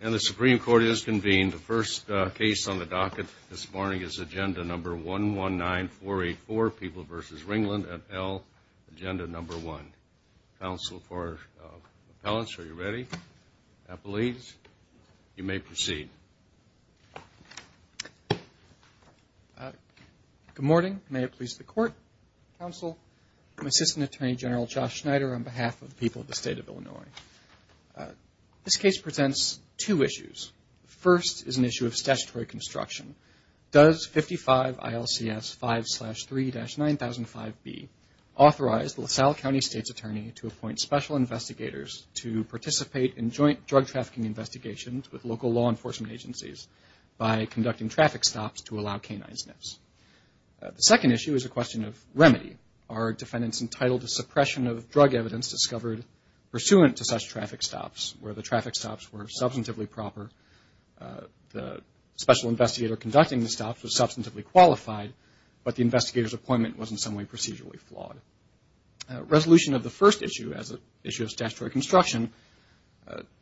And the Supreme Court has convened. The first case on the docket this morning is Agenda No. 119484, People v. Ringland at L, Agenda No. 1. Counsel for Appellants, are you ready? If that pleases you, you may proceed. Good morning. May it please the Court, Counsel, I'm Assistant Attorney General Josh Schneider on behalf of the people of the State of Illinois. This case presents two issues. The first is an issue of statutory construction. Does 55 ILCS 5-3-9005B authorize the LaSalle County State's Attorney to appoint special investigators to participate in joint drug trafficking investigations with local law enforcement agencies by conducting traffic stops to allow canine sniffs? The second issue is a question of remedy. Are there such traffic stops where the traffic stops were substantively proper, the special investigator conducting the stops was substantively qualified, but the investigator's appointment was in some way procedurally flawed? Resolution of the first issue as an issue of statutory construction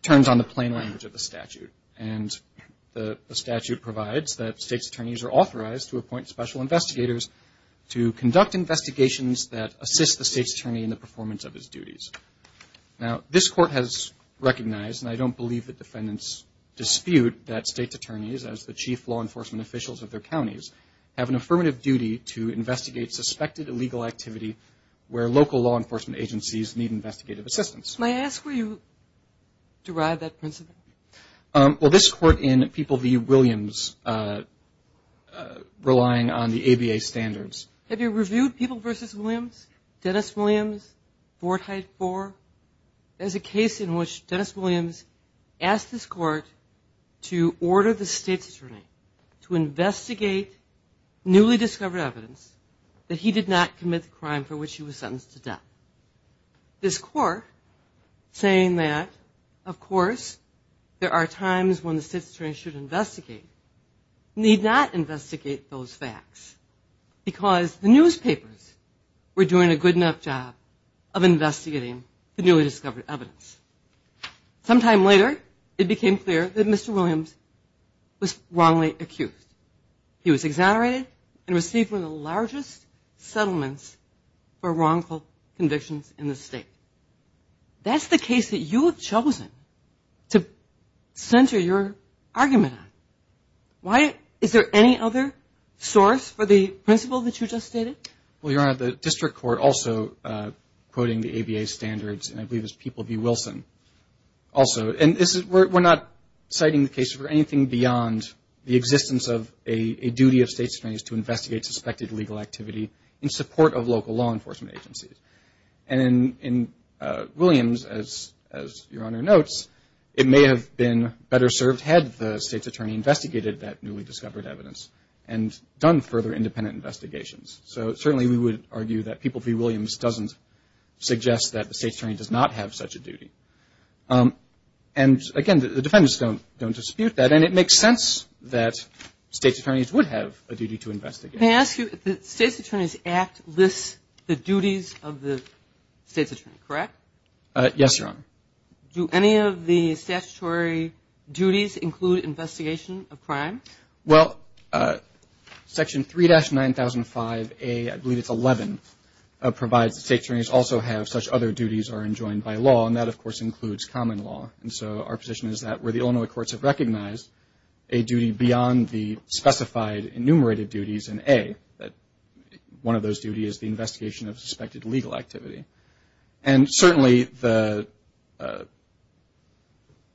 turns on the plain language of the statute. And the statute provides that State's attorneys are authorized to appoint special investigators to conduct investigations that assist the State's attorney in the performance of his duties. Now, this Court has recognized, and I don't believe the defendants dispute, that State's attorneys, as the chief law enforcement officials of their counties, have an affirmative duty to investigate suspected illegal activity where local law enforcement agencies need investigative assistance. May I ask where you derive that principle? Well, this Court in People v. Williams, relying on the ABA standards. Have you reviewed People v. Williams, Dennis Williams, Fort Hyde 4? There's a case in which Dennis Williams asked this Court to order the State's attorney to investigate newly discovered evidence that he did not commit the crime for which he was sentenced to death. This Court, saying that, of course, there are times when the State's attorney acts because the newspapers were doing a good enough job of investigating the newly discovered evidence. Sometime later, it became clear that Mr. Williams was wrongly accused. He was exonerated and received one of the largest settlements for wrongful convictions in the State. That's the case that you have chosen to center your argument on. Why is there any other source for the principle that you just stated? Well, Your Honor, the District Court also quoting the ABA standards, and I believe it's People v. Wilson, also. And we're not citing the case for anything beyond the existence of a duty of State's attorneys to investigate suspected illegal activity in support of local law enforcement agencies. And in Williams, as Your Honor notes, it may have been better served had the State's attorney investigated that newly discovered evidence and done further independent investigations. So certainly, we would argue that People v. Williams doesn't suggest that the State's attorney does not have such a duty. And again, the defendants don't dispute that. And it makes sense that State's attorneys would have a duty to investigate. May I ask you if the State's Attorney's Act lists the duties of the State's attorney, correct? Yes, Your Honor. Do any of the statutory duties include investigation of crime? Well, Section 3-9005A, I believe it's 11, provides that State's attorneys also have such other duties are enjoined by law. And that, of course, includes common law. And so our position is that where the Illinois courts have recognized a duty beyond the specified enumerated duties in A, that one of those duties is the investigation of suspected legal activity. And certainly, the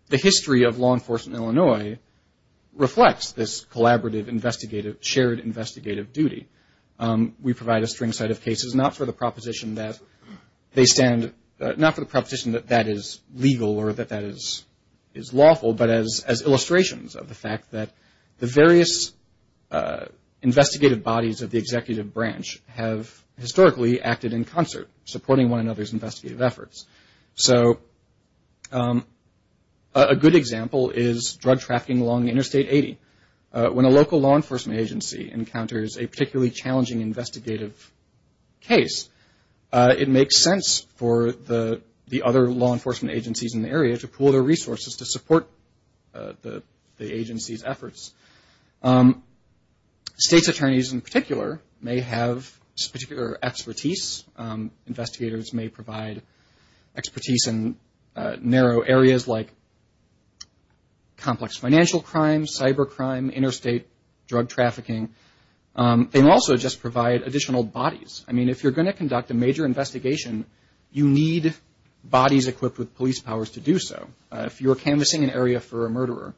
history of law enforcement in Illinois reflects this collaborative investigative, shared investigative duty. We provide a string set of cases, not for the proposition that they stand, not for the proposition that that is legal or that that is lawful, but as illustrations of the fact that the various investigative bodies of the executive branch have historically acted in concert, supporting one another's investigative efforts. So a good example is drug trafficking along Interstate 80. When a local law enforcement agency encounters a particularly challenging investigative case, it makes sense for the other law enforcement agencies in the area to pool their resources to support the agency's efforts. State's attorneys, in particular, may have particular expertise. Investigators may provide expertise in narrow areas like complex financial crime, cybercrime, interstate drug trafficking. They also just provide additional bodies. I mean, if you're going to conduct a major investigation, you need bodies equipped with police powers to do so. If you're canvassing an area for a murderer,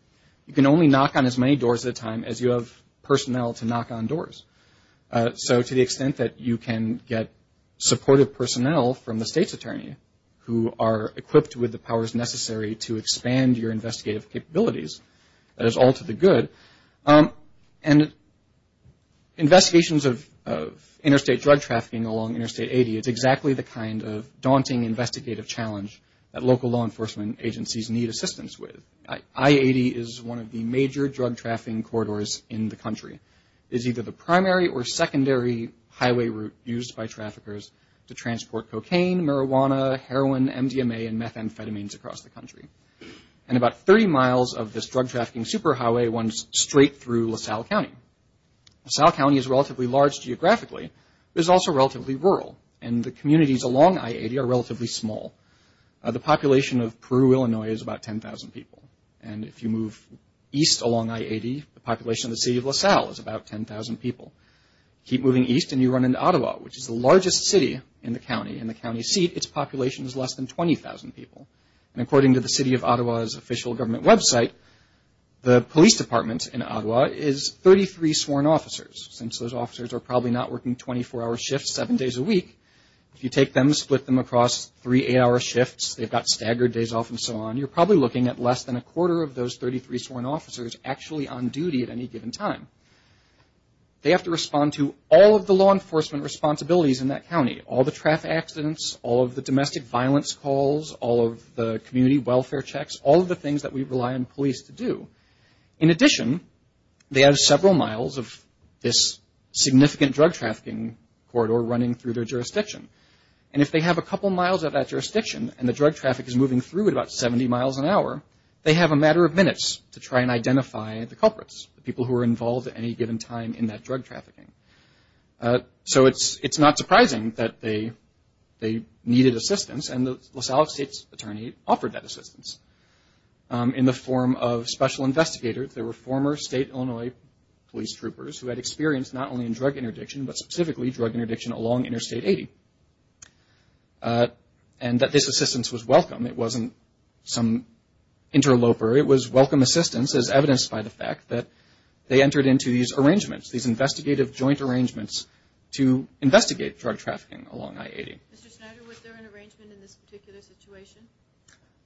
you can only knock on as many doors at a time as you have personnel to knock on doors. So to the extent that you can get supportive personnel from the state's attorney who are equipped with the powers necessary to expand your investigative capabilities, that is all to the good. And investigations of interstate drug trafficking along Interstate 80, it's exactly the kind of daunting investigative challenge that local law enforcement agencies need assistance with. I-80 is one of the major drug trafficking corridors in the country. It's either the primary or secondary highway route used by traffickers to transport cocaine, marijuana, heroin, MDMA, and methamphetamines across the country. And about 30 miles of this drug trafficking superhighway runs straight through LaSalle County. LaSalle County is relatively large geographically, but it's also relatively rural. And the communities along I-80 are relatively small. The population of Peru, Illinois is about 10,000 people. And if you move east along I-80, the population of the city of LaSalle is about 10,000 people. Keep moving east and you run into Ottawa, which is the largest city in the county. In the county seat, its population is less than 20,000 people. And according to the city of Ottawa's official government website, the police department in Ottawa is 33 sworn officers, since those officers are probably not working 24-hour shifts seven days a week. If you take them, split them across three eight-hour shifts, they've got staggered days off and so on, you're probably looking at less than a quarter of those 33 sworn officers actually on duty at any given time. They have to respond to all of the law enforcement responsibilities in that county, all the traffic accidents, all of the domestic violence calls, all of the community welfare checks, all of the things that we rely on police to do. In addition, they have several miles of this significant drug trafficking corridor running through their jurisdiction. And if they have a couple miles of that jurisdiction and the drug traffic is moving through at about 70 miles an hour, they have a matter of minutes to try and identify the culprits, the people who were involved at any given time in that drug trafficking. So it's not surprising that they needed assistance, and the LaSalle State's attorney offered that assistance. In the form of special investigators, there were former state Illinois police troopers who had experience not only in drug interdiction, but specifically drug interdiction along Interstate 80. And that this assistance was welcome. It wasn't some interloper. It was welcome assistance as evidenced by the fact that they entered into these arrangements, these investigative joint arrangements to investigate drug trafficking along I-80. Q. Mr. Schneider, was there an arrangement in this particular situation?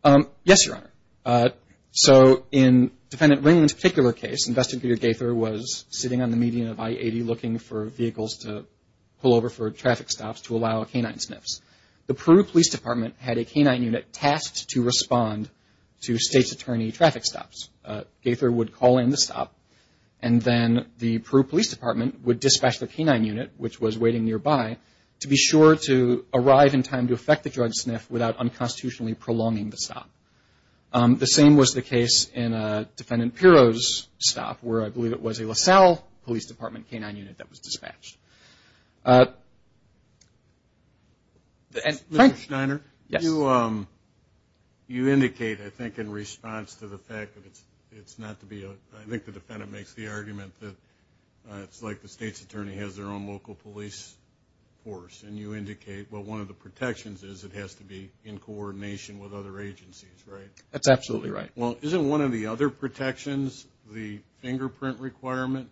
A. Yes, Your Honor. So in Defendant Ringland's particular case, Investigator Gaither was sitting on the median of I-80 looking for vehicles to pull over for traffic stops to allow canine sniffs. The Peru Police Department had a canine unit tasked to respond to State's attorney traffic stops. Gaither would call in the stop, and then the Peru Police Department would dispatch the canine unit, which was waiting nearby, to be sure to arrive in time to effect the drug sniff without unconstitutionally prolonging the stop. The same was the case in Defendant Pirro's stop, where I believe it was a LaSalle Police Department canine unit that was dispatched. Q. Mr. Schneider, you indicate, I think, in response to the fact that it's not to be, I think the defendant makes the argument that it's like the State's attorney has their own local police force, and you indicate, well, one of the protections is it has to be in coordination with other agencies, right? A. That's absolutely right. Q. Well, isn't one of the other protections the fingerprint requirement,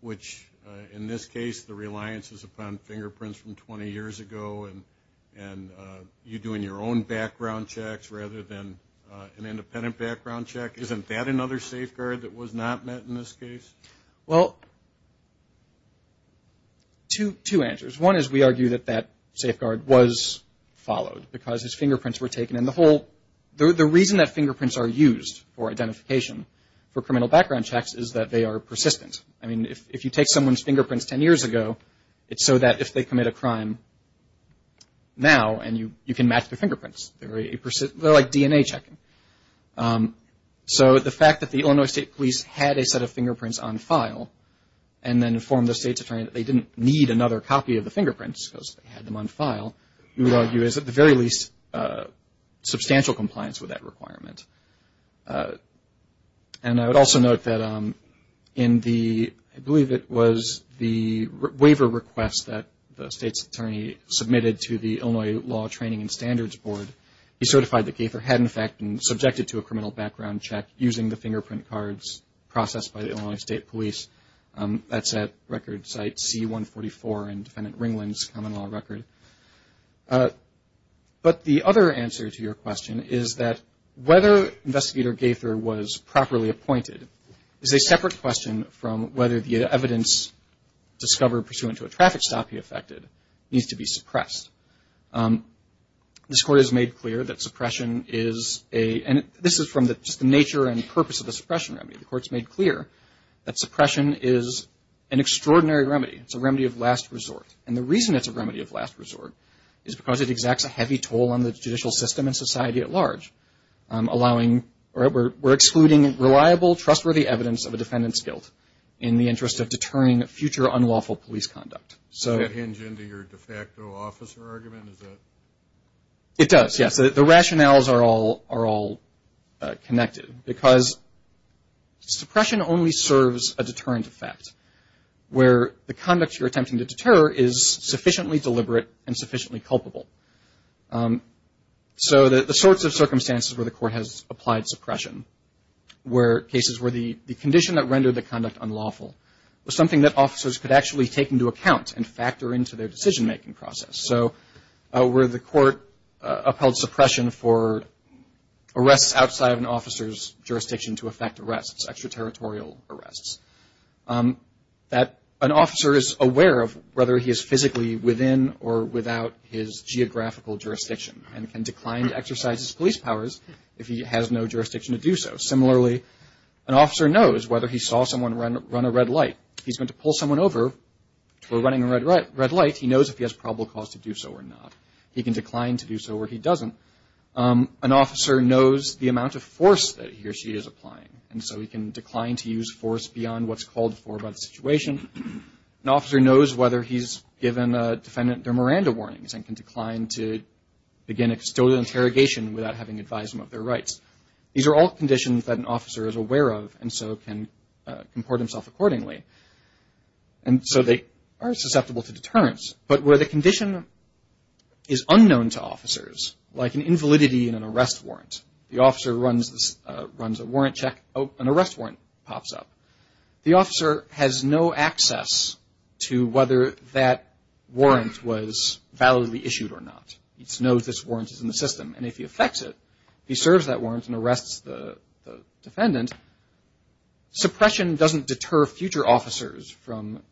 which in this case the reliance is upon fingerprints from 20 years ago, and you doing your own background checks rather than an independent background check? Isn't that another safeguard that was not met in this case? A. Well, two answers. One is we argue that that safeguard was followed because his fingerprints were taken, and the whole, the reason that fingerprints are used for identification for criminal background checks is that they are persistent. I mean, if you take someone's fingerprints 10 years ago, it's so that if they commit a crime now, and you can match their fingerprints. They're like DNA checking. So the fact that the Illinois State Police had a set of fingerprints on file, and then informed the State's attorney that they didn't need another copy of the fingerprints because they had them on file, we would argue is at the very least substantial compliance with that requirement. And I would also note that in the, I believe it was the waiver request that the State's attorney submitted to the Illinois Law Training and Standards Board, he certified that Gaither had in fact been subjected to a criminal background check using the fingerprint cards processed by the Illinois State Police. That's at record site C-144 in Defendant Ringland's common law record. But the other answer to your question is that whether Investigator Gaither was properly appointed is a separate question from whether the evidence discovered pursuant to a traffic stop he affected needs to be suppressed. This Court has made clear that suppression is a, and this is from just the nature and purpose of the suppression remedy. The Court's made clear that suppression is an extraordinary remedy. It's a remedy of last resort. And the reason it's a remedy of last resort is because it exacts a heavy toll on the judicial system and society at large, allowing, or we're excluding reliable, trustworthy evidence of a defendant's guilt in the interest of deterring future unlawful police conduct. So Does that hinge into your de facto officer argument? Is that? It does, yes. The rationales are all connected because suppression only serves a deterrent effect, where the conduct you're attempting to deter is sufficiently deliberate and sufficiently culpable. So the sorts of circumstances where the Court has applied suppression, where cases where the condition that rendered the conduct unlawful was something that officers could actually take into account and factor into their decision-making process. So where the Court upheld suppression for arrests outside of an officer's jurisdiction to affect arrests, extraterritorial arrests, that an officer is aware of whether he is physically within or without his geographical jurisdiction and can decline to exercise his police powers if he has no jurisdiction to do so. Similarly, an officer knows whether he saw someone run a red light. If he's going to pull someone over for running a red light, he knows if he has probable cause to do so or not. He can decline to do so or he doesn't. An officer knows the amount of force that he or she is applying, and so he can decline to use force beyond what's called for by the situation. An officer knows whether he's given a defendant their Miranda warnings and can decline to begin a custodial interrogation without having advised them of their rights. These are all conditions that an officer is aware of and so can comport himself accordingly. And so they are susceptible to deterrence. But where the condition is unknown to officers, like an invalidity in an arrest warrant, the officer runs a warrant check, an arrest warrant pops up. The officer has no access to whether that warrant was validly issued or not. He knows this warrant is in the system, and if he affects it, he serves that warrant and arrests the defendant. Suppression doesn't deter future officers from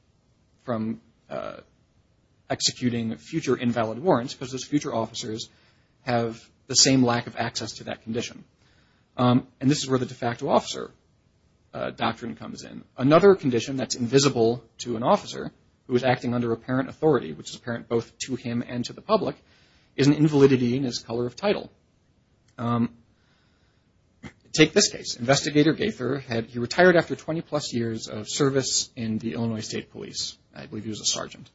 executing future invalid warrants because those future officers have the same lack of access to that condition. And this is where the de facto officer doctrine comes in. Another condition that's invisible to an officer who is acting under apparent authority, which is apparent both to him and to the public, is an invalidity in his color of title. Take this case. Investigator Gaither, he retired after 20 plus years of service in the Illinois State Police. I believe he was a sergeant.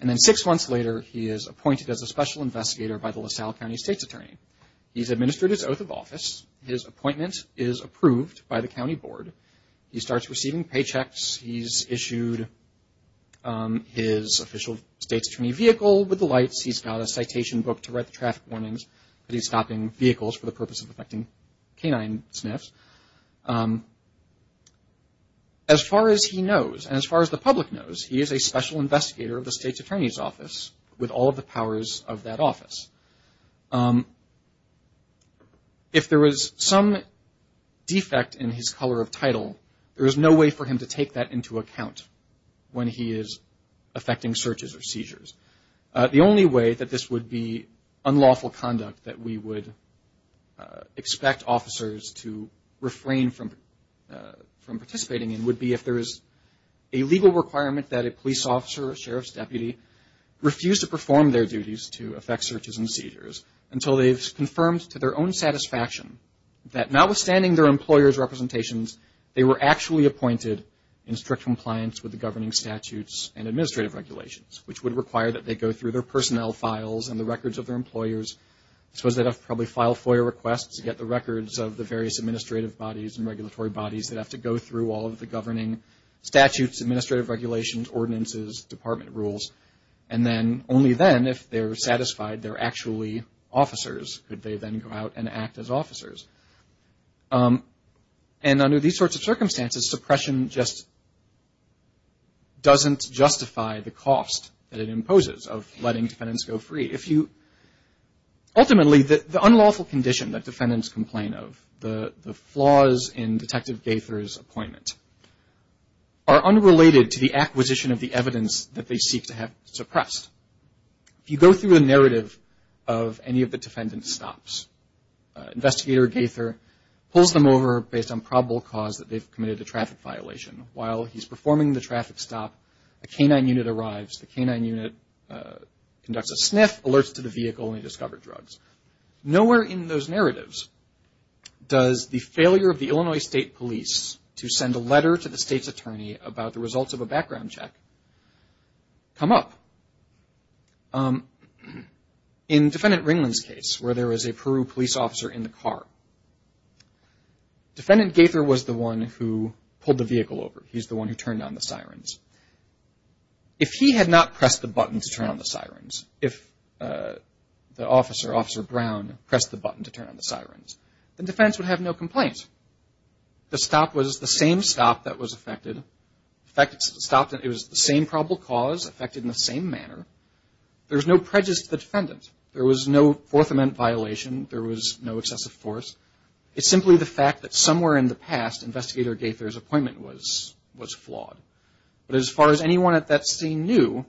And then six months later, he is appointed as a special investigator by the LaSalle County State's Attorney. He's administered his oath of office. His appointment is approved by the county board. He starts receiving paychecks. He's issued his official state's attorney vehicle with the lights. He's got a citation book to write the traffic warnings that he's stopping vehicles for the purpose of affecting canine sniffs. As far as he knows, and as far as the public knows, he is a special investigator of the state's attorney's office with all of the powers of that office. If there is some defect in his color of title, there is no way for him to take that into account when he is affecting searches or seizures. The only way that this would be unlawful conduct that we would expect officers to refrain from participating in would be if there is a legal requirement that a police officer or sheriff's deputy refuse to perform their duties to affect that notwithstanding their employer's representations, they were actually appointed in strict compliance with the governing statutes and administrative regulations, which would require that they go through their personnel files and the records of their employers. I suppose they'd probably file FOIA requests to get the records of the various administrative bodies and regulatory bodies that have to go through all of the governing statutes, administrative regulations, ordinances, department rules. And then only then, if they're satisfied, they're actually officers, could they then go out and act as officers. And under these sorts of circumstances, suppression just doesn't justify the cost that it imposes of letting defendants go free. Ultimately, the unlawful condition that defendants complain of, the flaws in Detective Gaither's appointment, are unrelated to the acquisition of the evidence that they seek to have suppressed. If you go through a narrative of any of the defendant's stops, Investigator Gaither pulls them over based on probable cause that they've committed a traffic violation. While he's performing the traffic stop, a K-9 unit arrives. The K-9 unit conducts a sniff, alerts to the vehicle, and they discover drugs. Nowhere in those narratives does the failure of the Illinois State Police to send a letter to the state's attorney about the results of a background check come up. In Defendant Ringland's case, where there was a Peru police officer in the car, Defendant Gaither was the one who pulled the vehicle over. He's the one who turned on the sirens. If he had not pressed the button to turn on the sirens, if the officer, Officer Brown, pressed the button to turn on the sirens, the defense would have no complaint. The stop was the same stop that was affected. In fact, it was the same probable cause affected in the same manner. There's no prejudice to the defendant. There was no Fourth Amendment violation. There was no excessive force. It's simply the fact that somewhere in the past, Investigator Gaither's appointment was flawed. But as far as anyone at that scene knew,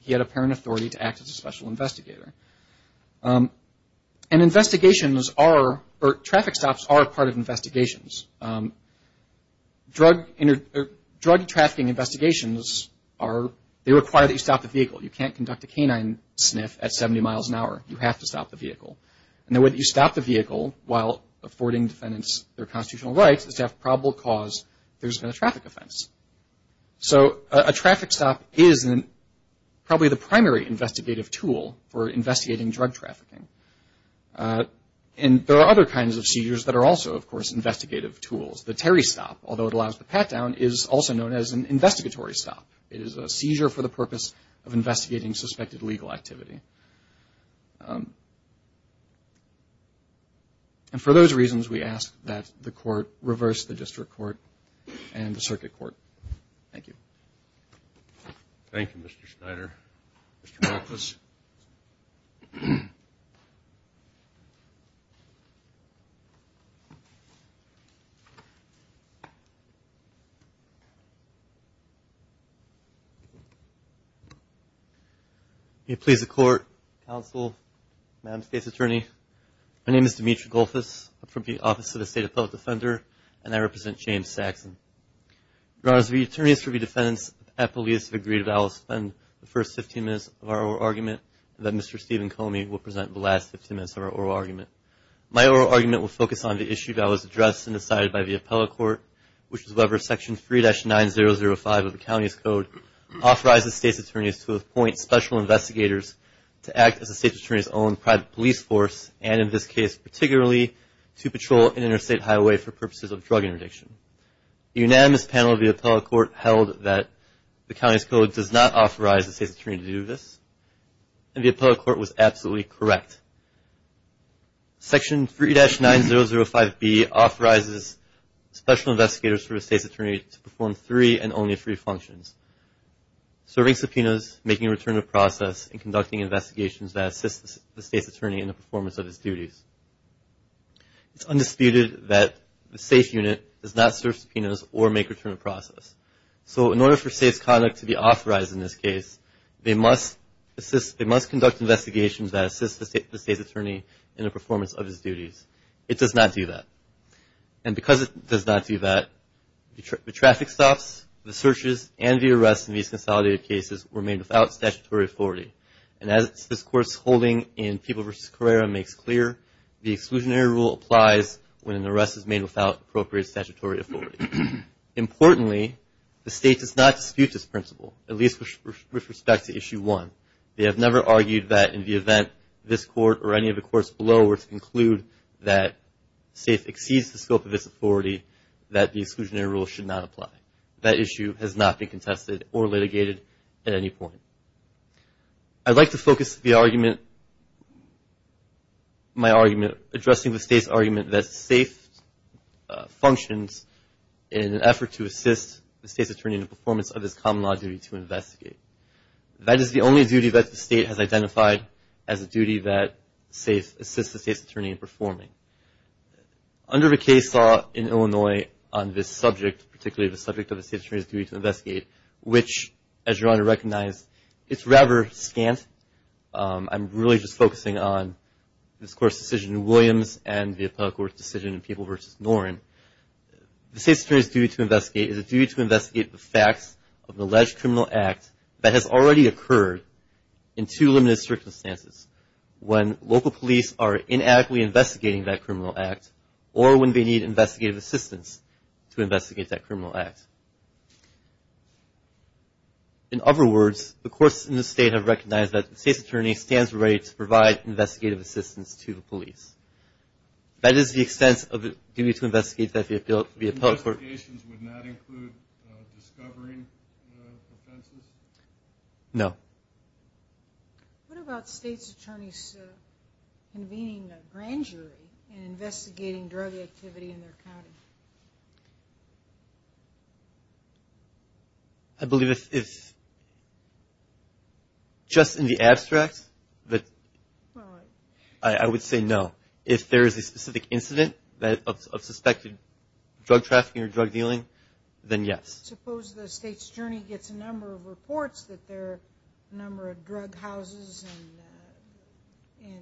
he had apparent authority to act as a special investigator. And investigations are, or traffic stops are part of investigations. Drug trafficking investigations are, they require that you stop the vehicle. You can't conduct a canine sniff at 70 miles an hour. You have to stop the vehicle. And the way that you stop the vehicle while affording defendants their constitutional rights is to have probable cause there's been a traffic offense. So a traffic stop is probably the primary investigative tool for investigating drug trafficking. And there are other kinds of seizures that are also, of course, investigative tools. The Terry stop, although it allows the pat-down, is also known as an investigatory stop. It is a seizure for the purpose of investigating suspected legal activity. And for those reasons, we ask that the Court reverse the District Court and the Circuit Court. Thank you. Can you please the Court, Counsel, Madam State's Attorney. My name is Dimitri Golfus. I'm from the Office of the State Appellate Defender. And I represent James Saxon. Your Honor, as the attorneys for the defendants, I have the least of agreed that I will spend the first 15 minutes of our oral argument and that Mr. Stephen Comey will present the last 15 minutes of our oral argument. My oral argument will focus on the issue that was addressed and decided by the Appellate Court, which is whether Section 3-9005 of the County's Code authorizes State's Attorneys to appoint special investigators to act as the State's Attorney's own private police force, and in this case, particularly, to patrol an interstate highway for purposes of drug interdiction. The unanimous panel of the Appellate Court held that the County's Section 3-9005B authorizes special investigators for the State's Attorney to perform three and only three functions. Serving subpoenas, making a return of process, and conducting investigations that assist the State's Attorney in the performance of his duties. It's undisputed that the State's Unit does not serve subpoenas or make a return of process. So in order for State's Conduct to be authorized in this case, they must assist, they must conduct investigations that assist the State's Attorney in the performance of his duties. It does not do that. And because it does not do that, the traffic stops, the searches, and the arrests in these consolidated cases were made without statutory authority. And as this Court's holding in People v. Carrera makes clear, the exclusionary rule applies when an arrest is made without appropriate statutory authority. Importantly, the State does not dispute this principle, at least with respect to Issue 1. They have never argued that in the event this Court or any of the Courts below were to conclude that SAFE exceeds the scope of its authority, that the exclusionary rule should not apply. That issue has not been contested or litigated at any point. I'd like to focus the argument, my argument, addressing the State's argument that SAFE functions in an effort to assist the State's Attorney in the performance of his common law duty to investigate. That is the only duty that the State has identified as a duty that SAFE assists the State's Attorney in performing. Under the case law in Illinois on this subject, particularly the subject of the State's Attorney's duty to investigate, which as you're going to recognize, it's rather scant. I'm really just focusing on this Court's decision in Williams and the Appellate Court's decision in People v. Noren. The State's Attorney's duty to investigate the facts of an alleged criminal act that has already occurred in two limited circumstances. When local police are inadequately investigating that criminal act or when they need investigative assistance to investigate that criminal act. In other words, the Courts in the State have recognized that the State's Attorney stands ready to provide investigative assistance to the police. That is the extent of the duty to investigate that via the Appellate Court. The investigations would not include discovering the offenses? No. What about State's Attorneys convening a grand jury and investigating drug activity in their county? I believe if, just in the abstract, I would say no. If there is a specific incident of suspected drug trafficking or drug dealing, then yes. Suppose the State's Attorney gets a number of reports that there are a number of drug houses and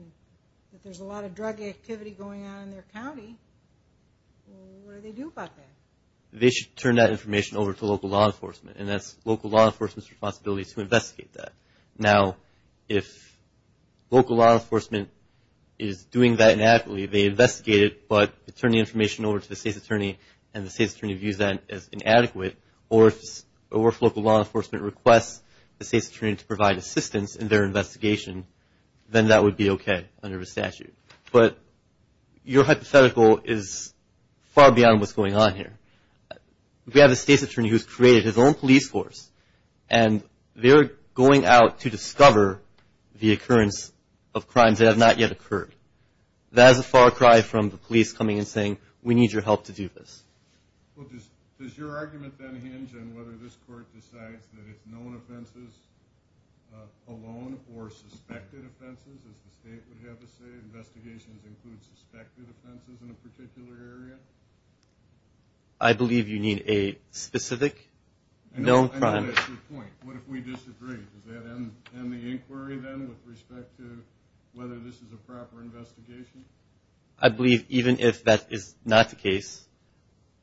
that there's a lot of drug activity going on in their county. What do they do about that? They should turn that information over to local law enforcement. And that's local law enforcement's responsibility to investigate that. Now, if local law enforcement is doing that inadequately, they investigate it, but turn the information over to the State's Attorney and the State's Attorney views that as inadequate, or if local law enforcement requests the State's Attorney to provide assistance in their investigation, then that would be okay under the statute. But your hypothetical is far beyond what's going on here. We have a State's Attorney who's created his own police force and they're going out to discover the occurrence of crimes that have not yet occurred. That is a far cry from the police coming and saying, we need your help to do this. Does your argument then hinge on whether this Court decides that it's known offenses alone or suspected offenses, as the State would have us say? Investigations include suspected offenses in a particular area? I believe you need a specific known crime. I know that's your point. What if we disagree? Does that end the inquiry then with respect to whether this is a proper investigation? I believe even if that is not the case,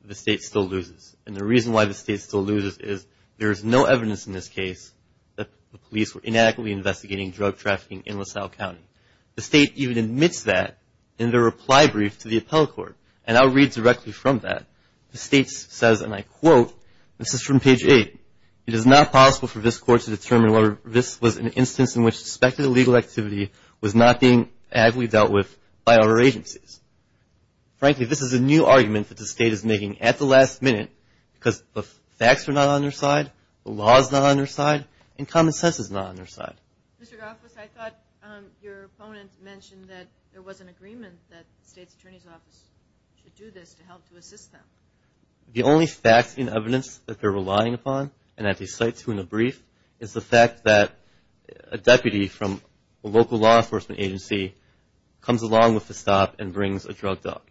the State still loses. And the reason why the State still loses is there is no evidence in this case that the police were inadequately investigating drug trafficking in LaSalle County. The State even admits that in their reply brief to the Appellate Court. And I'll read directly from that. The State says, and I quote, this is from page 8, it is not possible for this Court to determine whether this was an instance in which suspected illegal activity was not being adequately dealt with by other agencies. Frankly, this is a new argument that the State is making at the last minute because the facts are not on their side, the law is not on their side, and common sense is not on their side. Mr. Goffis, I thought your opponent mentioned that there was an agreement that the State's Attorney's Office should do this to help to assist them. The only facts and evidence that they're relying upon, and that they cite to in the brief, is the fact that a deputy from a local law enforcement agency comes along with the stop and brings a drug dog,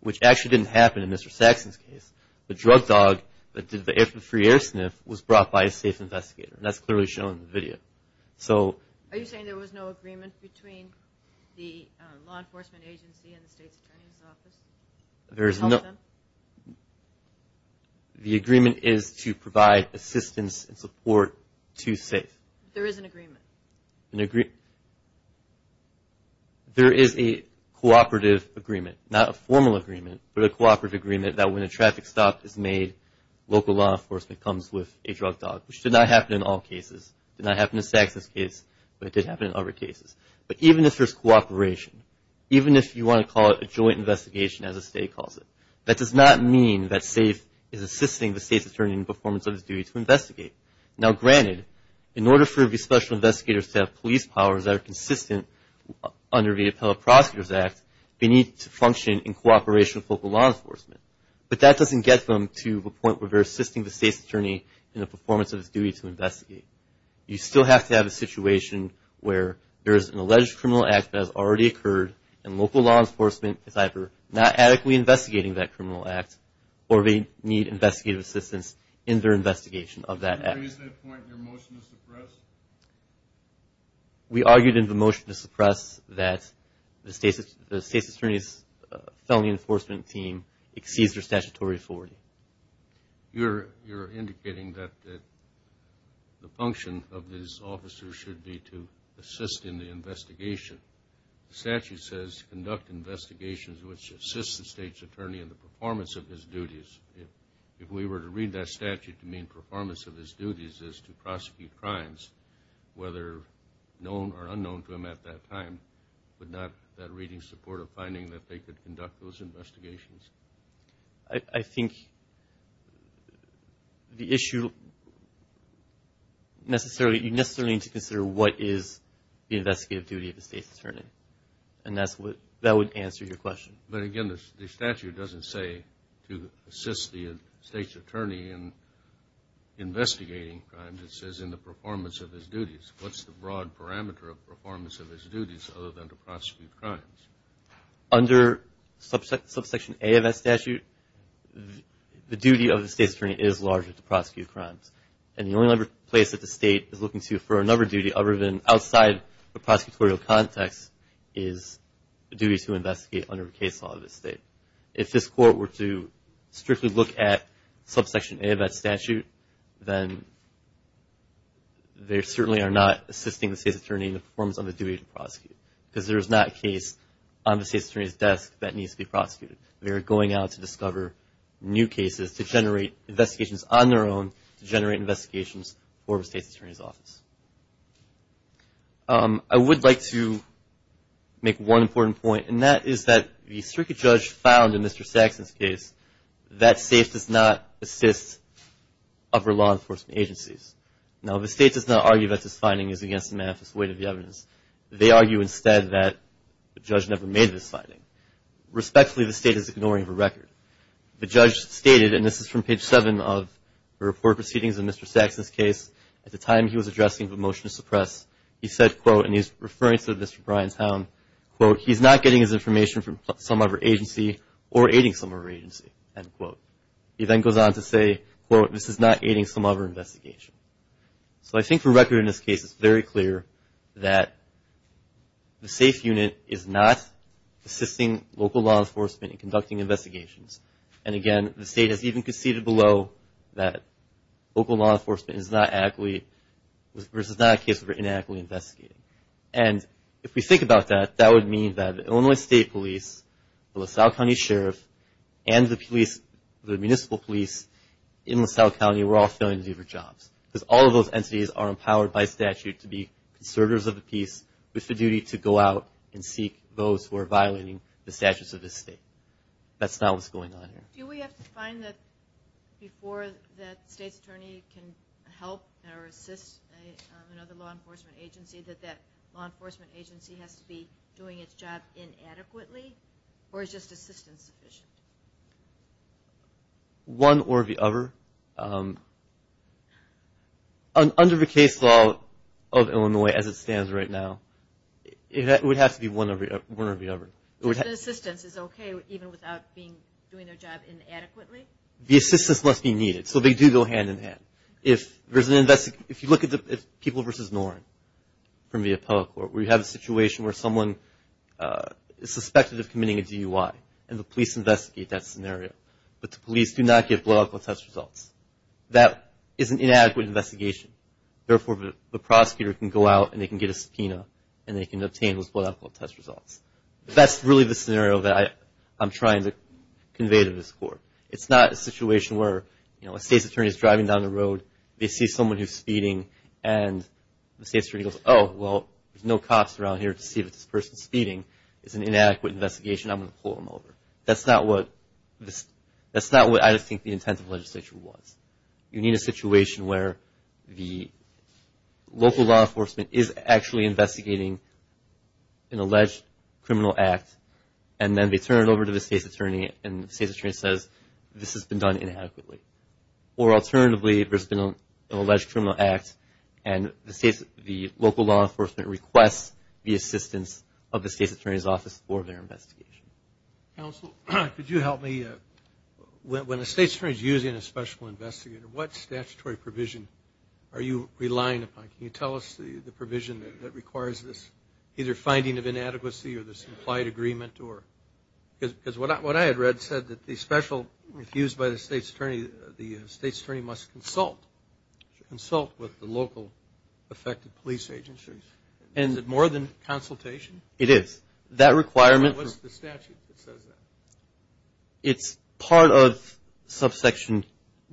which actually didn't happen in Mr. Saxon's case. The drug dog that did the air sniff was brought by a safe investigator, and that's clearly shown in the video. Are you saying there was no agreement between the law enforcement agency and the State's Attorney's Office to help them? The agreement is to provide assistance and support to SAFE. There is an agreement. There is a cooperative agreement, not a formal agreement, but a cooperative agreement that when a traffic stop is made, local law enforcement comes with a drug dog, which did not happen in all cases. It did not happen in Mr. Saxon's case, but it did happen in other cases. But even if you want to call it a joint investigation as the State calls it, that does not mean that SAFE is assisting the State's Attorney in the performance of his duty to investigate. Now granted, in order for the Special Investigators to have police powers that are consistent under the Appellate Prosecutors Act, they need to function in cooperation with local law enforcement, but that doesn't get them to the point where they're assisting the State's Attorney in the performance of his duty to investigate. You still have to have a situation where there is an alleged criminal act that has already occurred, and local law enforcement is either not adequately investigating that criminal act, or they need investigative assistance in their investigation of that act. Did you raise that point in your motion to suppress? We argued in the motion to suppress that the State's Attorney's Felony Enforcement Team exceeds their statutory authority. You're indicating that the function of these officers should be to assist in the investigation. The statute says conduct investigations which assist the State's Attorney in the performance of his duties. If we were to read that statute to mean performance of his duties is to prosecute crimes, whether known or unknown to him at that time, would not that reading support a finding that they could conduct those investigations? I think the issue necessarily, you necessarily need to consider what is the investigative duty of the State's Attorney, and that would answer your question. But again, the statute doesn't say to assist the State's Attorney in investigating crimes. It says in the performance of his duties. What's the broad parameter of performance of his duties other than to prosecute crimes? Under Subsection A of that statute, the duty of the State's Attorney is largely to prosecute crimes. And the only place that the State is looking to for another duty other than outside the prosecutorial context is the duty to investigate under the case law of the State. If this Court were to strictly look at Subsection A of that statute, then they certainly are not assisting the State's Attorney in the performance of the duty to prosecute because there is not a case on the State's Attorney's desk that needs to be prosecuted. They are going out to discover new cases to generate investigations on their own to generate investigations for the State's Attorney's office. I would like to make one important point, and that is that the circuit judge found in Mr. Saxon's case that SAFE does not assist other law enforcement agencies. Now, the State does not argue that this finding is against the manifest weight of the evidence. They argue instead that the judge never made this finding. Respectfully, the State is ignoring the record. The judge stated, and this is from page 7 of the report proceedings in Mr. Saxon's case, at the time he was addressing the motion to suppress, he said, quote, and he's referring to this for Bryantown, quote, he's not getting his information from some other agency or aiding some other agency, end quote. He then goes on to say, quote, this is not aiding some other investigation. So I think for record in this case it's very clear that the SAFE unit is not assisting local law enforcement in conducting investigations. And, again, the State has even conceded below that local law enforcement is not actively, or is not a case of inactively investigating. And if we think about that, that would mean that Illinois State Police, the LaSalle County Sheriff, and the police, the municipal police in LaSalle County were all failing to do their jobs. Because all of those entities are empowered by statute to be conservators of the peace with the duty to go out and seek those who are violating the statutes of this State. That's not what's going on here. Do we have to find that before that State's attorney can help or assist another law enforcement agency that that law enforcement agency has to be doing its job inadequately, or is just assistance sufficient? One or the other. Under the case law of Illinois as it stands right now, it would have to be one or the other. Assistance is okay even without doing their job inadequately? The assistance must be needed. So they do go hand in hand. If you look at the people versus Noren from the appellate court, we have a situation where someone is suspected of committing a DUI, and the police investigate that scenario. But the police do not get blood alcohol test results. That is an inadequate investigation. Therefore, the prosecutor can go out and they can get a subpoena, and they can obtain those blood alcohol test results. That's really the scenario that I'm trying to convey to this court. It's not a situation where, you know, a State's attorney is driving down the road, they see someone who's speeding, and the State's attorney goes, oh, well, there's no cops around here to see if this person's speeding. It's an inadequate investigation. I'm going to pull them over. That's not what I think the intent of legislation was. You need a situation where the local law enforcement is actually investigating an alleged criminal act, and then they turn it over to the State's attorney, and the State's attorney says, this has been done inadequately. Or alternatively, there's been an alleged criminal act, and the local law enforcement requests the assistance of the State's attorney's office for their investigation. Counsel, could you help me? When a State's attorney is using a special investigator, what statutory provision are you relying upon? Can you tell us the provision that requires this either finding of inadequacy or this implied agreement? Because what I had read said that the special refused by the State's attorney, the State's attorney must consult with the local affected police agencies. Is it more than consultation? It is. What's the statute that says that? It's part of subsection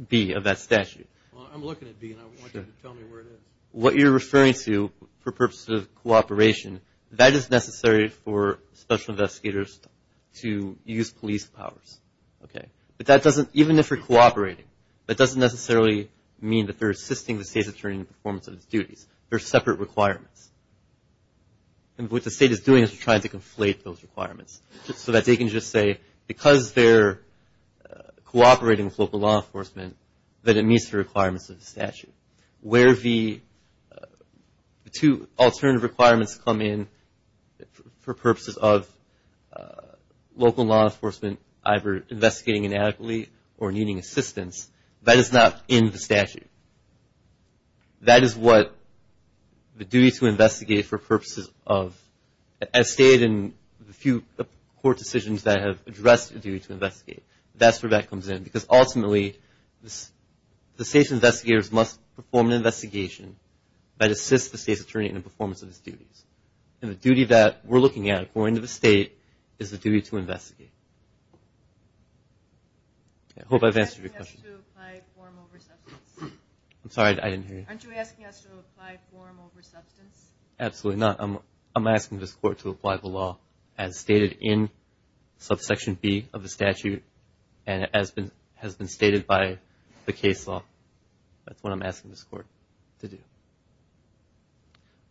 B of that statute. I'm looking at B, and I want you to tell me where it is. What you're referring to for purposes of cooperation, that is necessary for special investigators to use police powers, okay? But that doesn't, even if they're cooperating, that doesn't necessarily mean that they're assisting the State's attorney in the performance of its duties. They're separate requirements. And what the State is doing is trying to conflate those requirements so that they can just say, because they're cooperating with local law enforcement, that it meets the requirements of the statute. Where the two alternative requirements come in for purposes of local law enforcement, either investigating inadequately or needing assistance, that is not in the statute. That is what the duty to investigate for purposes of, as stated in the few court decisions that have addressed the duty to investigate, that's where that comes in. Because ultimately, the State's investigators must perform an investigation that assists the State's attorney in the performance of its duties. And the duty that we're looking at, according to the State, is the duty to investigate. I hope I've answered your question. Aren't you asking us to apply form over substance? I'm sorry, I didn't hear you. Aren't you asking us to apply form over substance? Absolutely not. I'm asking this Court to apply the law as stated in subsection B of the statute and as has been stated by the case law. That's what I'm asking this Court to do.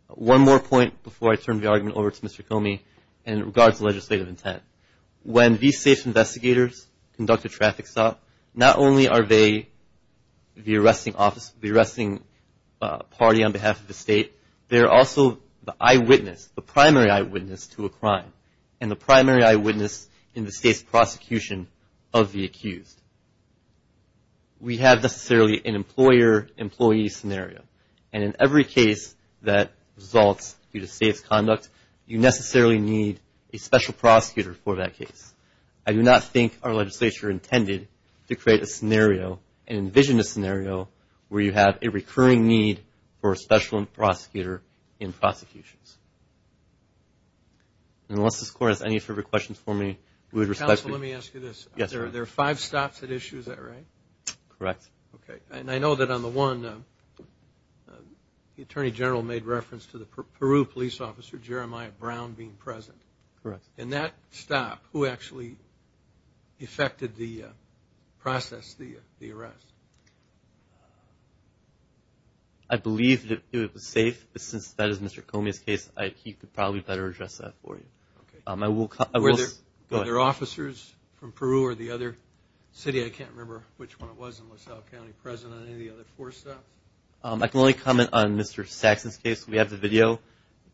One more point before I turn the argument over to Mr. Comey in regards to legislative intent. When these State's investigators conduct a traffic stop, not only are they the arresting party on behalf of the State, they're also the eyewitness, the primary eyewitness to a crime. And the primary eyewitness in the State's prosecution of the accused. We have, necessarily, an employer-employee scenario. And in every case that results due to State's conduct, you necessarily need a special prosecutor for that case. I do not think our legislature intended to create a scenario and envision a scenario where you have a recurring need for a special prosecutor in prosecutions. Unless this Court has any further questions for me, we would respect your time. Counsel, let me ask you this. Yes, sir. There are five stops at issue, is that right? Correct. Okay. And I know that on the one, the Attorney General made reference to the Peru police officer, Jeremiah Brown, being present. Correct. In that stop, who actually effected the process, the arrest? I believe that it was safe, but since that is Mr. Comey's case, he could probably better address that for you. Okay. Were there officers from Peru or the other city? I can't remember which one it was in LaSalle County present on any of the other four stops. I can only comment on Mr. Saxon's case. We have the video.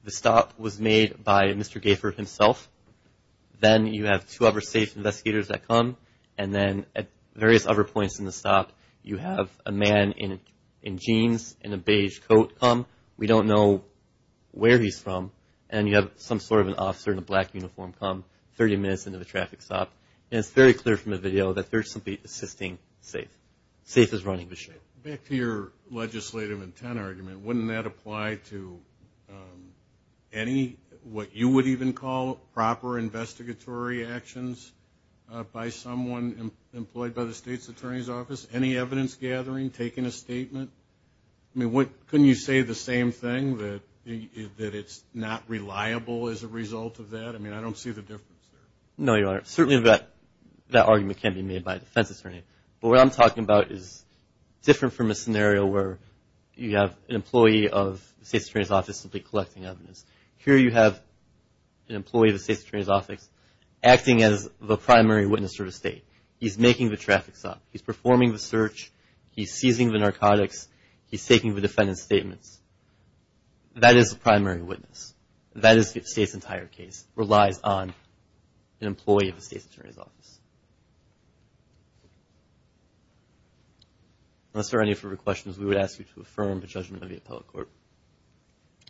The stop was made by Mr. Gaffer himself. Then you have two other safe investigators that come. And then at various other points in the stop, you have a man in jeans and a beige coat come. We don't know where he's from. And you have some sort of an officer in a black uniform come 30 minutes into the traffic stop. And it's very clear from the video that they're simply assisting safe. Safe is running the show. Back to your legislative intent argument, wouldn't that apply to any what you would even call proper investigatory actions by someone employed by the state's attorney's office? Any evidence gathering, taking a statement? I mean, couldn't you say the same thing, that it's not reliable as a result of that? I mean, I don't see the difference there. No, Your Honor. Certainly that argument can't be made by a defense attorney. But what I'm talking about is different from a scenario where you have an employee of the state's attorney's office simply collecting evidence. Here you have an employee of the state's attorney's office acting as the primary witness for the state. He's making the traffic stop. He's performing the search. He's seizing the narcotics. He's taking the defendant's statements. That is the primary witness. That is the state's entire case relies on an employee of the state's attorney's office. Unless there are any further questions, we would ask you to affirm the judgment of the appellate court.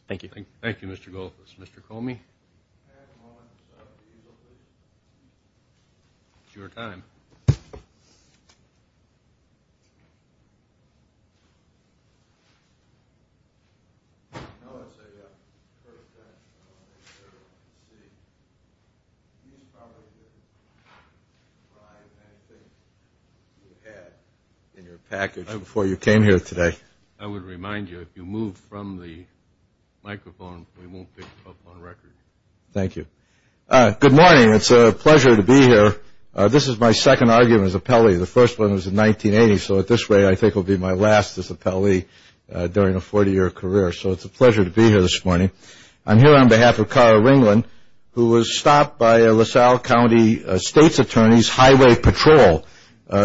Thank you. Thank you, Mr. Goldfuss. Mr. Comey? May I have a moment to set up the easel, please? It's your time. I want to say the first thing I want to make sure everyone can see. You probably didn't provide anything you had in your package before you came here today. I would remind you, if you move from the microphone, we won't pick you up on record. Thank you. Good morning. It's a pleasure to be here. This is my second argument as appellee. The first one was in 1980, so this way I think will be my last as appellee during a 40-year career. So it's a pleasure to be here this morning. I'm here on behalf of Kara Ringland, who was stopped by a LaSalle County State's Attorney's Highway Patrol,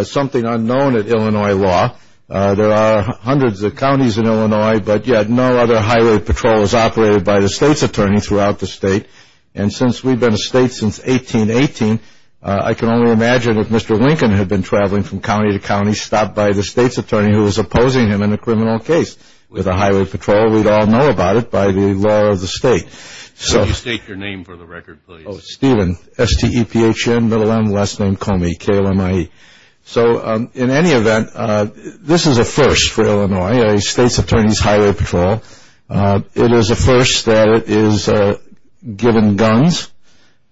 something unknown at Illinois law. There are hundreds of counties in Illinois, but yet no other highway patrol is operated by the state's attorney throughout the state. And since we've been a state since 1818, I can only imagine if Mr. Lincoln had been traveling from county to county, stopped by the state's attorney who was opposing him in a criminal case with a highway patrol, we'd all know about it by the law of the state. Could you state your name for the record, please? Steven, S-T-E-P-H-E-N, middle M, last name Comey, K-L-M-I-E. So in any event, this is a first for Illinois, a state's attorney's highway patrol. It is a first that is given guns,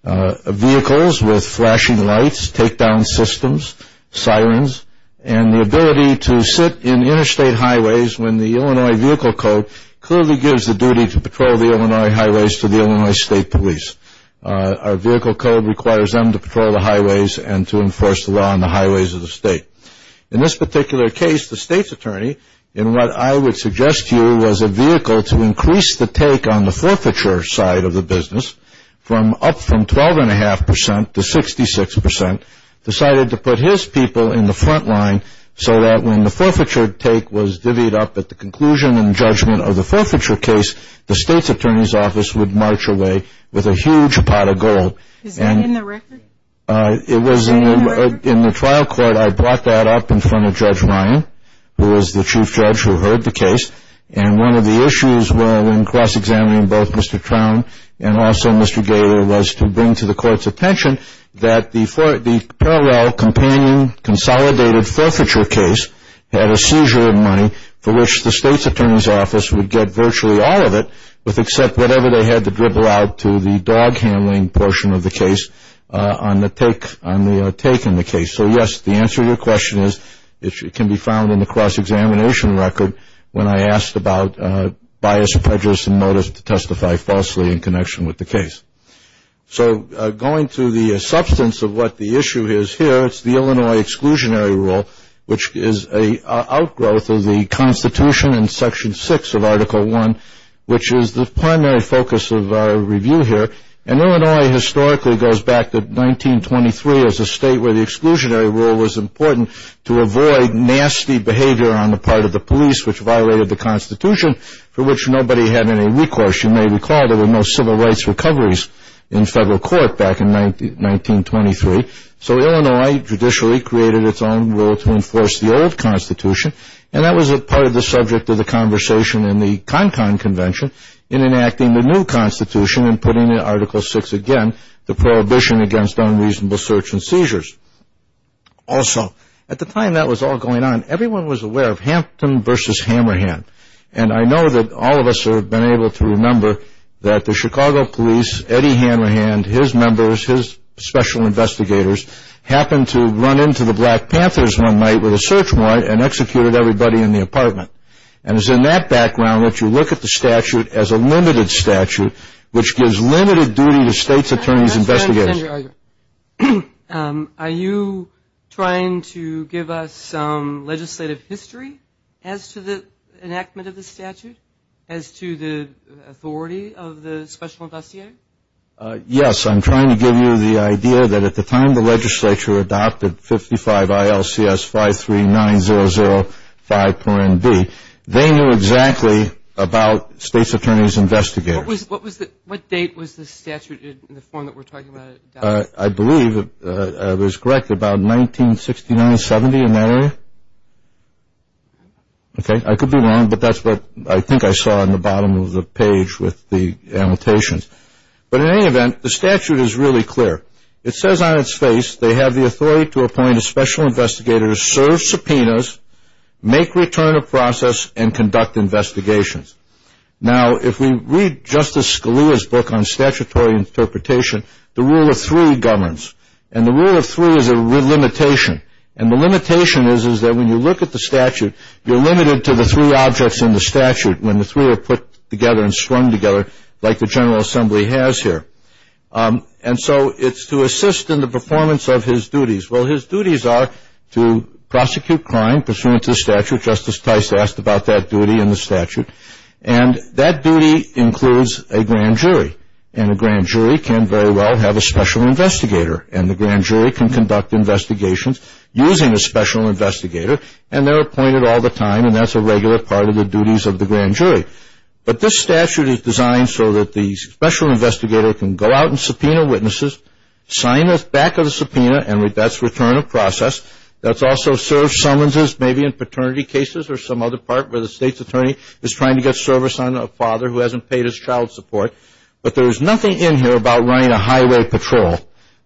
vehicles with flashing lights, takedown systems, sirens, and the ability to sit in interstate highways when the Illinois Vehicle Code clearly gives the duty to patrol the Illinois highways to the Illinois State Police. Our Vehicle Code requires them to patrol the highways and to enforce the law on the highways of the state. In this particular case, the state's attorney, in what I would suggest to you, was a vehicle to increase the take on the forfeiture side of the business from up from 12.5 percent to 66 percent, decided to put his people in the front line so that when the forfeiture take was divvied up at the conclusion and judgment of the forfeiture case, the state's attorney's office would march away with a huge pot of gold. Is that in the record? It was in the trial court. I brought that up in front of Judge Ryan, who was the chief judge who heard the case, and one of the issues in cross-examining both Mr. Crown and also Mr. Gator was to bring to the court's attention that the parallel companion consolidated forfeiture case had a seizure of money for which the state's attorney's office would get virtually all of it with except whatever they had to dribble out to the dog handling portion of the case on the take in the case. So, yes, the answer to your question is it can be found in the cross-examination record when I asked about bias, prejudice, and motives to testify falsely in connection with the case. So going to the substance of what the issue is here, it's the Illinois exclusionary rule, which is an outgrowth of the Constitution in Section 6 of Article I, which is the primary focus of our review here. And Illinois historically goes back to 1923 as a state where the exclusionary rule was important to avoid nasty behavior on the part of the police which violated the Constitution for which nobody had any recourse. You may recall there were no civil rights recoveries in federal court back in 1923. So Illinois judicially created its own rule to enforce the old Constitution, and that was part of the subject of the conversation in the Cancan Convention in enacting the new Constitution and putting in Article VI again the prohibition against unreasonable search and seizures. Also, at the time that was all going on, everyone was aware of Hampton v. Hammerhand, and I know that all of us have been able to remember that the Chicago police, Eddie Hammerhand, his members, his special investigators, happened to run into the Black Panthers one night with a search warrant and executed everybody in the apartment. And it's in that background that you look at the statute as a limited statute which gives limited duty to state's attorneys and investigators. Are you trying to give us some legislative history as to the enactment of the statute, as to the authority of the special investigator? Yes. I'm trying to give you the idea that at the time the legislature adopted 55 ILCS 539005.B, they knew exactly about state's attorneys and investigators. What date was the statute in the form that we're talking about adopted? I believe I was correct, about 1969-70, in that area. Okay. I could be wrong, but that's what I think I saw in the bottom of the page with the annotations. But in any event, the statute is really clear. It says on its face they have the authority to appoint a special investigator to serve subpoenas, make return of process, and conduct investigations. Now, if we read Justice Scalia's book on statutory interpretation, the rule of three governs. And the rule of three is a limitation. And the limitation is that when you look at the statute, you're limited to the three objects in the statute when the three are put together and swung together like the General Assembly has here. And so it's to assist in the performance of his duties. Well, his duties are to prosecute crime pursuant to the statute. Justice Tice asked about that duty in the statute. And that duty includes a grand jury. And a grand jury can very well have a special investigator. And the grand jury can conduct investigations using a special investigator. And they're appointed all the time. And that's a regular part of the duties of the grand jury. But this statute is designed so that the special investigator can go out and subpoena witnesses, sign the back of the subpoena, and that's return of process. That's also served summonses maybe in paternity cases or some other part where the state's attorney is trying to get service on a father who hasn't paid his child support. But there is nothing in here about running a highway patrol.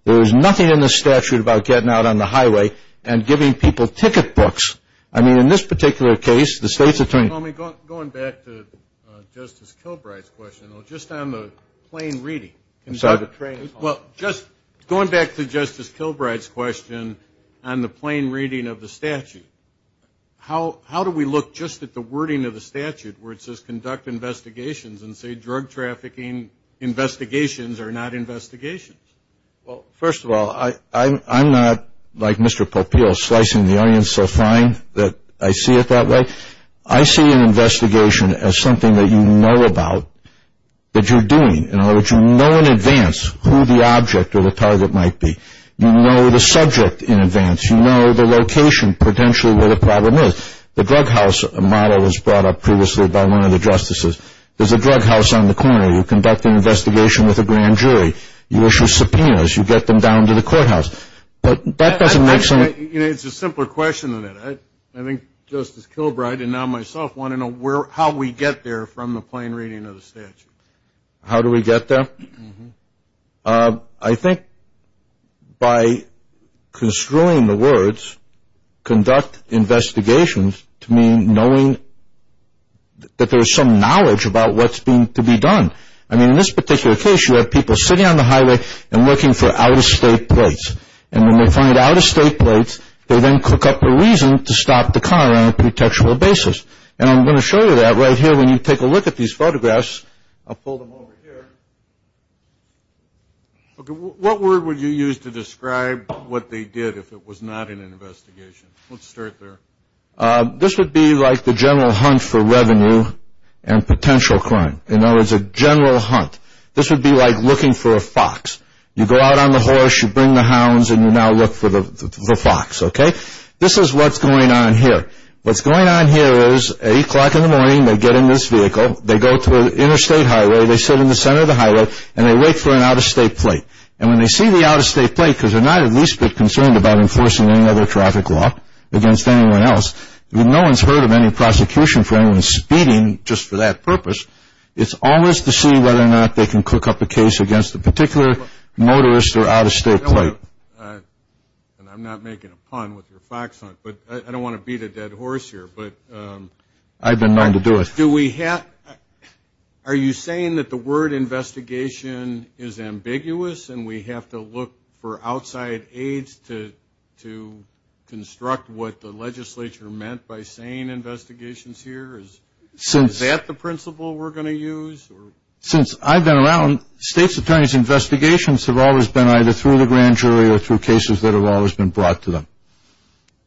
There is nothing in the statute about getting out on the highway and giving people ticket books. I mean, in this particular case, the state's attorney. Going back to Justice Kilbright's question, though, just on the plain reading. I'm sorry. Well, just going back to Justice Kilbright's question on the plain reading of the statute, how do we look just at the wording of the statute where it says conduct investigations and say drug trafficking investigations are not investigations? Well, first of all, I'm not, like Mr. Popeil, slicing the onion so fine that I see it that way. I see an investigation as something that you know about, that you're doing. In other words, you know in advance who the object or the target might be. You know the subject in advance. You know the location potentially where the problem is. The drug house model was brought up previously by one of the justices. There's a drug house on the corner. You conduct an investigation with a grand jury. You issue subpoenas. You get them down to the courthouse. But that doesn't make sense. You know, it's a simpler question than that. I think Justice Kilbright and now myself want to know how we get there from the plain reading of the statute. How do we get there? I think by construing the words conduct investigations to mean knowing that there's some knowledge about what's to be done. I mean, in this particular case, you have people sitting on the highway and looking for out-of-state plates. And when they find out-of-state plates, they then cook up a reason to stop the car on a pretextual basis. And I'm going to show you that right here when you take a look at these photographs. I'll pull them over here. What word would you use to describe what they did if it was not an investigation? Let's start there. This would be like the general hunt for revenue and potential crime. In other words, a general hunt. This would be like looking for a fox. You go out on the horse, you bring the hounds, and you now look for the fox, okay? This is what's going on here. What's going on here is 8 o'clock in the morning, they get in this vehicle. They go to an interstate highway. They sit in the center of the highway, and they wait for an out-of-state plate. And when they see the out-of-state plate, because they're not at least a bit concerned about enforcing any other traffic law against anyone else, no one's heard of any prosecution for anyone speeding just for that purpose. It's always to see whether or not they can cook up a case against a particular motorist or out-of-state plate. And I'm not making a pun with your fox hunt, but I don't want to beat a dead horse here. But I've been known to do it. Do we have – are you saying that the word investigation is ambiguous and we have to look for outside aids to construct what the legislature meant by saying investigations here? Is that the principle we're going to use? Since I've been around, state's attorneys' investigations have always been either through the grand jury or through cases that have always been brought to them.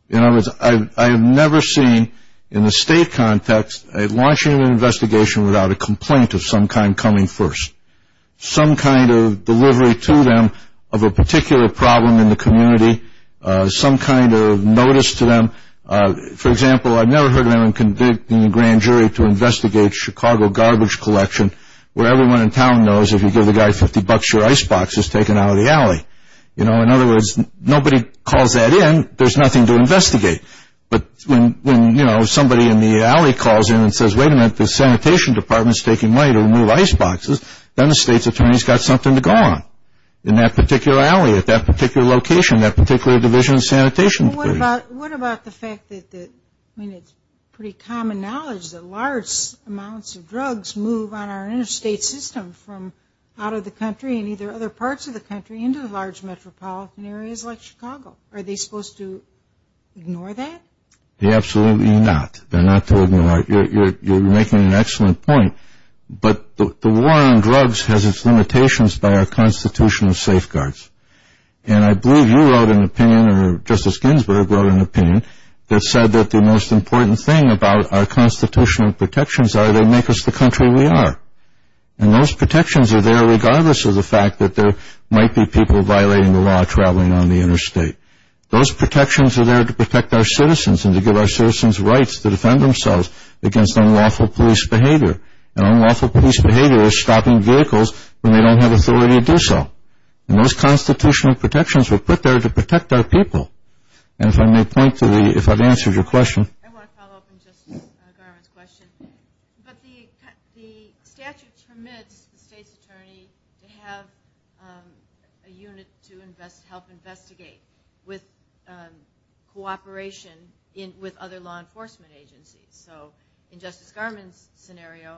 In other words, I have never seen, in the state context, launching an investigation without a complaint of some kind coming first, some kind of delivery to them of a particular problem in the community, some kind of notice to them. For example, I've never heard of anyone convicting a grand jury to investigate Chicago garbage collection, where everyone in town knows if you give the guy 50 bucks, your icebox is taken out of the alley. You know, in other words, nobody calls that in. There's nothing to investigate. But when, you know, somebody in the alley calls in and says, wait a minute, the sanitation department is taking money to remove iceboxes, then the state's attorney's got something to go on in that particular alley at that particular location, that particular division of sanitation. What about the fact that – I mean, it's pretty common knowledge that large amounts of drugs move on our interstate system from out of the country and either other parts of the country into large metropolitan areas like Chicago. Are they supposed to ignore that? Absolutely not. They're not to ignore. You're making an excellent point. But the war on drugs has its limitations by our constitutional safeguards. And I believe you wrote an opinion, or Justice Ginsburg wrote an opinion, that said that the most important thing about our constitutional protections are they make us the country we are. And those protections are there regardless of the fact that there might be people violating the law traveling on the interstate. Those protections are there to protect our citizens and to give our citizens rights to defend themselves against unlawful police behavior. And unlawful police behavior is stopping vehicles when they don't have authority to do so. And those constitutional protections were put there to protect our people. And if I may point to the – if I've answered your question. I want to follow up on Justice Garland's question. But the statute permits the state's attorney to have a unit to help investigate with cooperation with other law enforcement agencies. So in Justice Garland's scenario,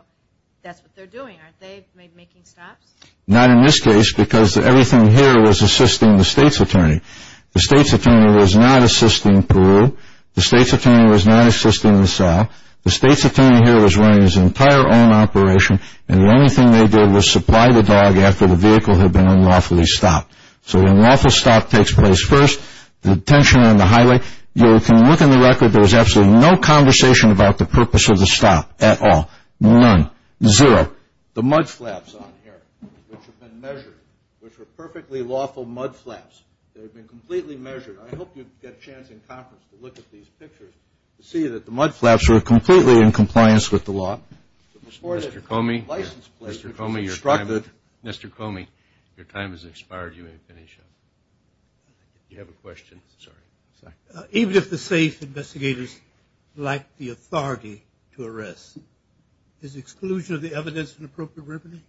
that's what they're doing. Aren't they making stops? Not in this case because everything here was assisting the state's attorney. The state's attorney was not assisting Peru. The state's attorney was not assisting the South. The state's attorney here was running his entire own operation. And the only thing they did was supply the dog after the vehicle had been unlawfully stopped. So the unlawful stop takes place first. The detention on the highway. You can look in the record. There was absolutely no conversation about the purpose of the stop at all. None. Zero. The mudflaps on here, which have been measured, which were perfectly lawful mudflaps. They've been completely measured. I hope you get a chance in conference to look at these pictures to see that the mudflaps were completely in compliance with the law. Mr. Comey, your time has expired. You may finish up. Do you have a question? Sorry. Even if the state investigators lack the authority to arrest, is exclusion of the evidence an appropriate remedy?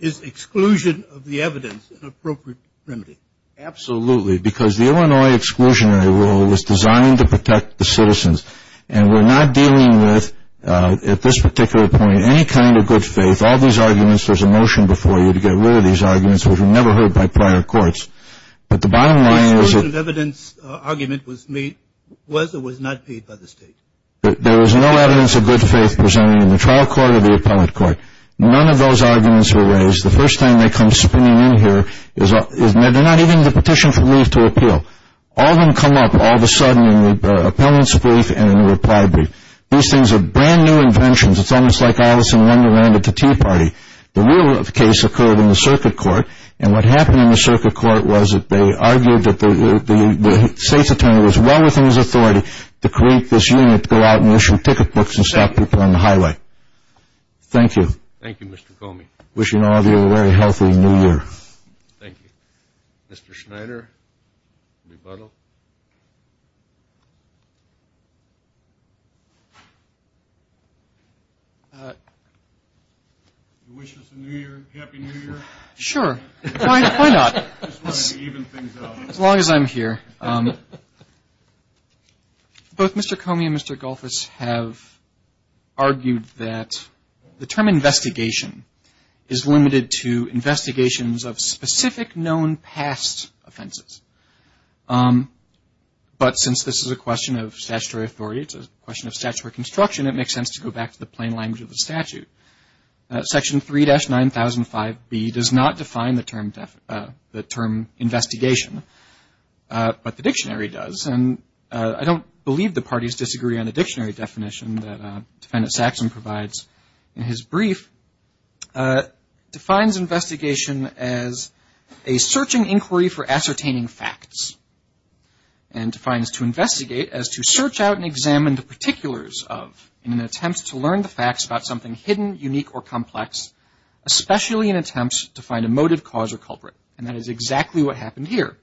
Is exclusion of the evidence an appropriate remedy? Absolutely. Because the Illinois exclusionary rule was designed to protect the citizens. And we're not dealing with, at this particular point, any kind of good faith. All these arguments, there's a motion before you to get rid of these arguments, which were never heard by prior courts. But the bottom line is that the exclusion of evidence argument was or was not paid by the state. There was no evidence of good faith presented in the trial court or the appellate court. None of those arguments were raised. The first time they come spinning in here is they're not even in the petition for leave to appeal. All of them come up all of a sudden in the appellant's brief and in the reply brief. These things are brand-new inventions. It's almost like Alice in Wonderland at the Tea Party. The real case occurred in the circuit court. And what happened in the circuit court was that they argued that the state's attorney was well within his authority to create this unit to go out and issue ticket books and stop people on the highway. Thank you. Thank you, Mr. Comey. Wishing all of you a very healthy New Year. Thank you. Mr. Schneider, rebuttal. You wish us a New Year? Happy New Year? Sure. Why not? I just want to even things out. As long as I'm here. Both Mr. Comey and Mr. Golphis have argued that the term investigation is limited to investigations of specific known past offenses. But since this is a question of statutory authority, it's a question of statutory construction, it makes sense to go back to the plain language of the statute. Section 3-9005B does not define the term investigation. But the dictionary does. And I don't believe the parties disagree on the dictionary definition that Defendant Saxon provides in his brief. Defines investigation as a searching inquiry for ascertaining facts. And defines to investigate as to search out and examine the particulars of in an attempt to learn the facts about something hidden, unique, or complex, especially in attempts to find a motive, cause, or culprit. And that is exactly what happened here.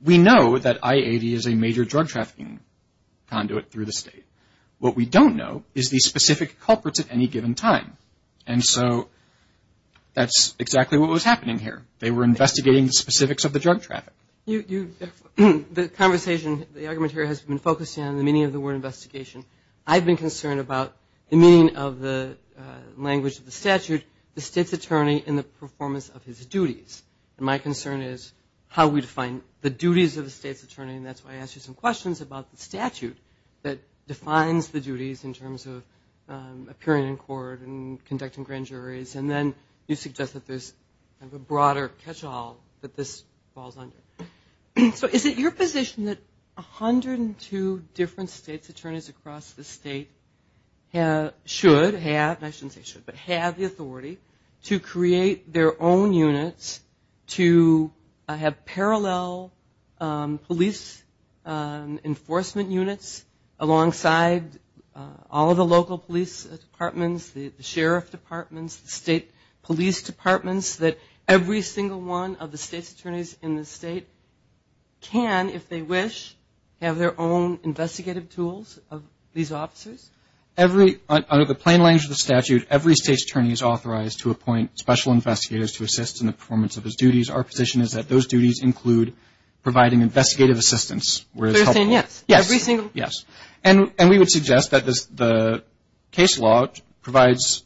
We know that IAV is a major drug trafficking conduit through the state. What we don't know is the specific culprits at any given time. And so that's exactly what was happening here. They were investigating the specifics of the drug traffic. The conversation, the argument here has been focused on the meaning of the word investigation. I've been concerned about the meaning of the language of the statute, the state's attorney, and the performance of his duties. And my concern is how we define the duties of the state's attorney. And that's why I asked you some questions about the statute that defines the duties in terms of appearing in court and conducting grand juries. And then you suggest that there's kind of a broader catch-all that this falls under. So is it your position that 102 different states' attorneys across the state should have, and I shouldn't say should, but have the authority to create their own units to have parallel police enforcement units alongside all of the local police departments, the sheriff departments, the state police departments, that every single one of the state's attorneys in the state can, if they wish, have their own investigative tools of these officers? Every, under the plain language of the statute, every state's attorney is authorized to appoint special investigators to assist in the performance of his duties. Our position is that those duties include providing investigative assistance. They're saying yes. Yes. Every single. Yes. Yes. And we would suggest that the case law provides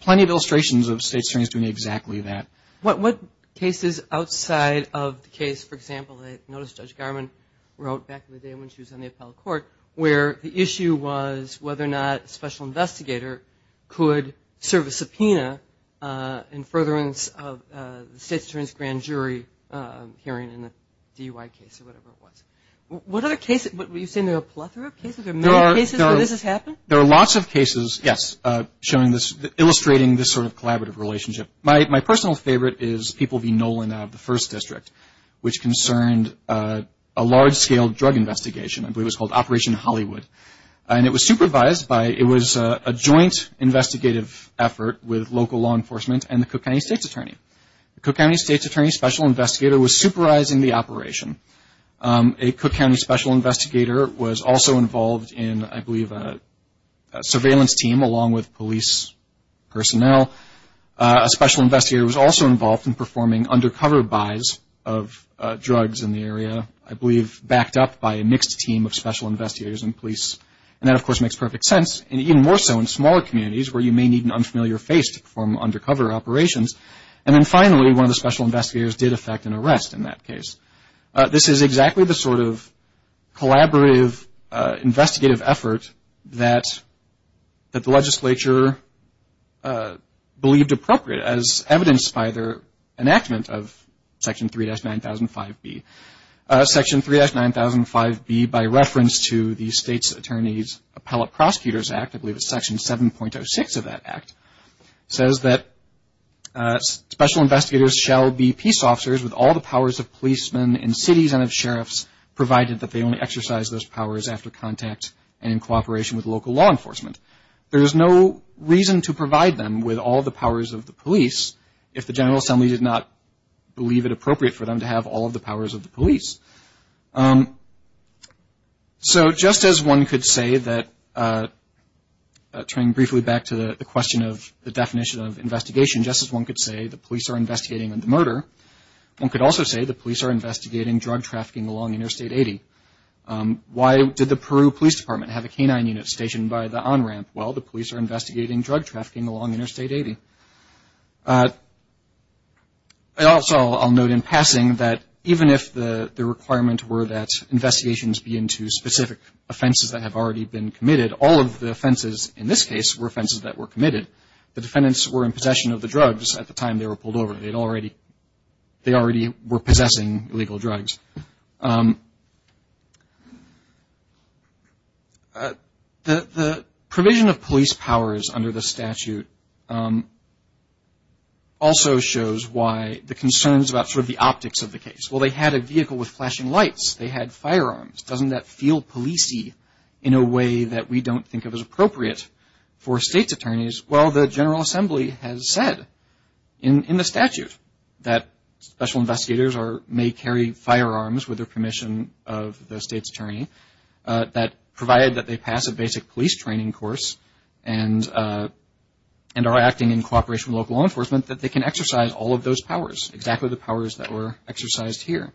plenty of illustrations of state's attorneys doing exactly that. What cases outside of the case, for example, I noticed Judge Garmon wrote back in the day when she was on the appellate court, where the issue was whether or not a special investigator could serve a subpoena in furtherance of the state's attorney's grand jury hearing in the DUI case, or whatever it was. What other cases? You're saying there are a plethora of cases? There are many cases where this has happened? There are lots of cases, yes, illustrating this sort of collaborative relationship. My personal favorite is People v. Nolan out of the 1st District, which concerned a large-scale drug investigation. I believe it was called Operation Hollywood. And it was supervised by, it was a joint investigative effort with local law enforcement and the Cook County State's Attorney. The Cook County State's Attorney Special Investigator was supervising the operation. A Cook County Special Investigator was also involved in, I believe, a surveillance team along with police personnel. A special investigator was also involved in performing undercover buys of drugs in the area, I believe backed up by a mixed team of special investigators and police. And that, of course, makes perfect sense, even more so in smaller communities where you may need an unfamiliar face to perform undercover operations. And then finally, one of the special investigators did affect an arrest in that case. This is exactly the sort of collaborative investigative effort that the legislature believed appropriate, as evidenced by their enactment of Section 3-9005B. Section 3-9005B, by reference to the State's Attorney's Appellate Prosecutors Act, I believe it's Section 7.06 of that act, says that special investigators shall be peace officers with all the powers of policemen in cities and of sheriffs, provided that they only exercise those powers after contact and in cooperation with local law enforcement. There is no reason to provide them with all the powers of the police if the General Assembly did not believe it appropriate for them to have all of the powers of the police. So just as one could say that, turning briefly back to the question of the definition of investigation, just as one could say the police are investigating the murder, one could also say the police are investigating drug trafficking along Interstate 80. Why did the Peru Police Department have a canine unit stationed by the on-ramp? Well, the police are investigating drug trafficking along Interstate 80. Also, I'll note in passing that even if the requirement were that investigations be into specific offenses that have already been committed, all of the offenses in this case were offenses that were committed. The defendants were in possession of the drugs at the time they were pulled over. They already were possessing illegal drugs. The provision of police powers under the statute also shows why the concerns about sort of the optics of the case. Well, they had a vehicle with flashing lights. They had firearms. Doesn't that feel police-y in a way that we don't think of as appropriate for states' attorneys? Well, the General Assembly has said in the statute that special investigators may carry firearms with the permission of the state's attorney, that provided that they pass a basic police training course and are acting in cooperation with local law enforcement, that they can exercise all of those powers, exactly the powers that were exercised here.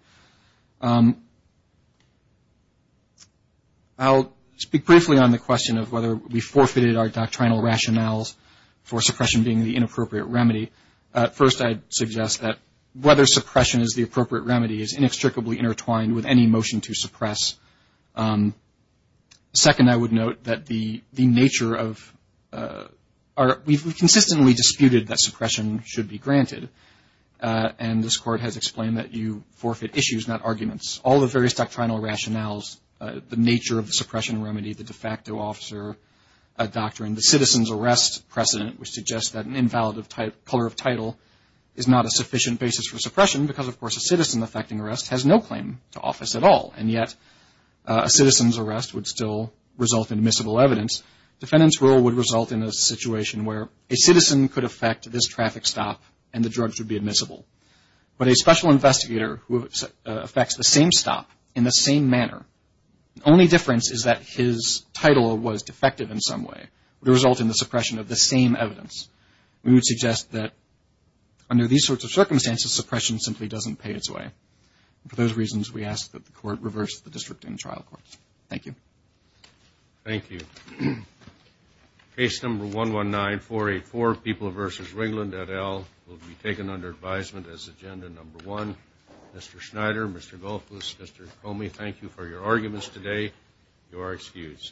I'll speak briefly on the question of whether we forfeited our doctrinal rationales for suppression being the inappropriate remedy. First, I'd suggest that whether suppression is the appropriate remedy is inextricably intertwined with any motion to suppress. Second, I would note that the nature of our – we've consistently disputed that suppression should be granted, and this Court has explained that you forfeit issues, not arguments. All the various doctrinal rationales, the nature of the suppression remedy, the de facto officer doctrine, the citizen's arrest precedent, which suggests that an invalid color of title is not a sufficient basis for suppression because, of course, a citizen affecting arrest has no claim to office at all, and yet a citizen's arrest would still result in admissible evidence. Defendant's rule would result in a situation where a citizen could affect this traffic stop and the drugs would be admissible. But a special investigator who affects the same stop in the same manner, the only difference is that his title was defective in some way, would result in the suppression of the same evidence. We would suggest that under these sorts of circumstances, suppression simply doesn't pay its way. For those reasons, we ask that the Court reverse the district and trial courts. Thank you. Thank you. Case number 119484, People v. Ringland, et al., will be taken under advisement as agenda number one. Mr. Schneider, Mr. Goldfuss, Mr. Comey, thank you for your arguments today. You are excused.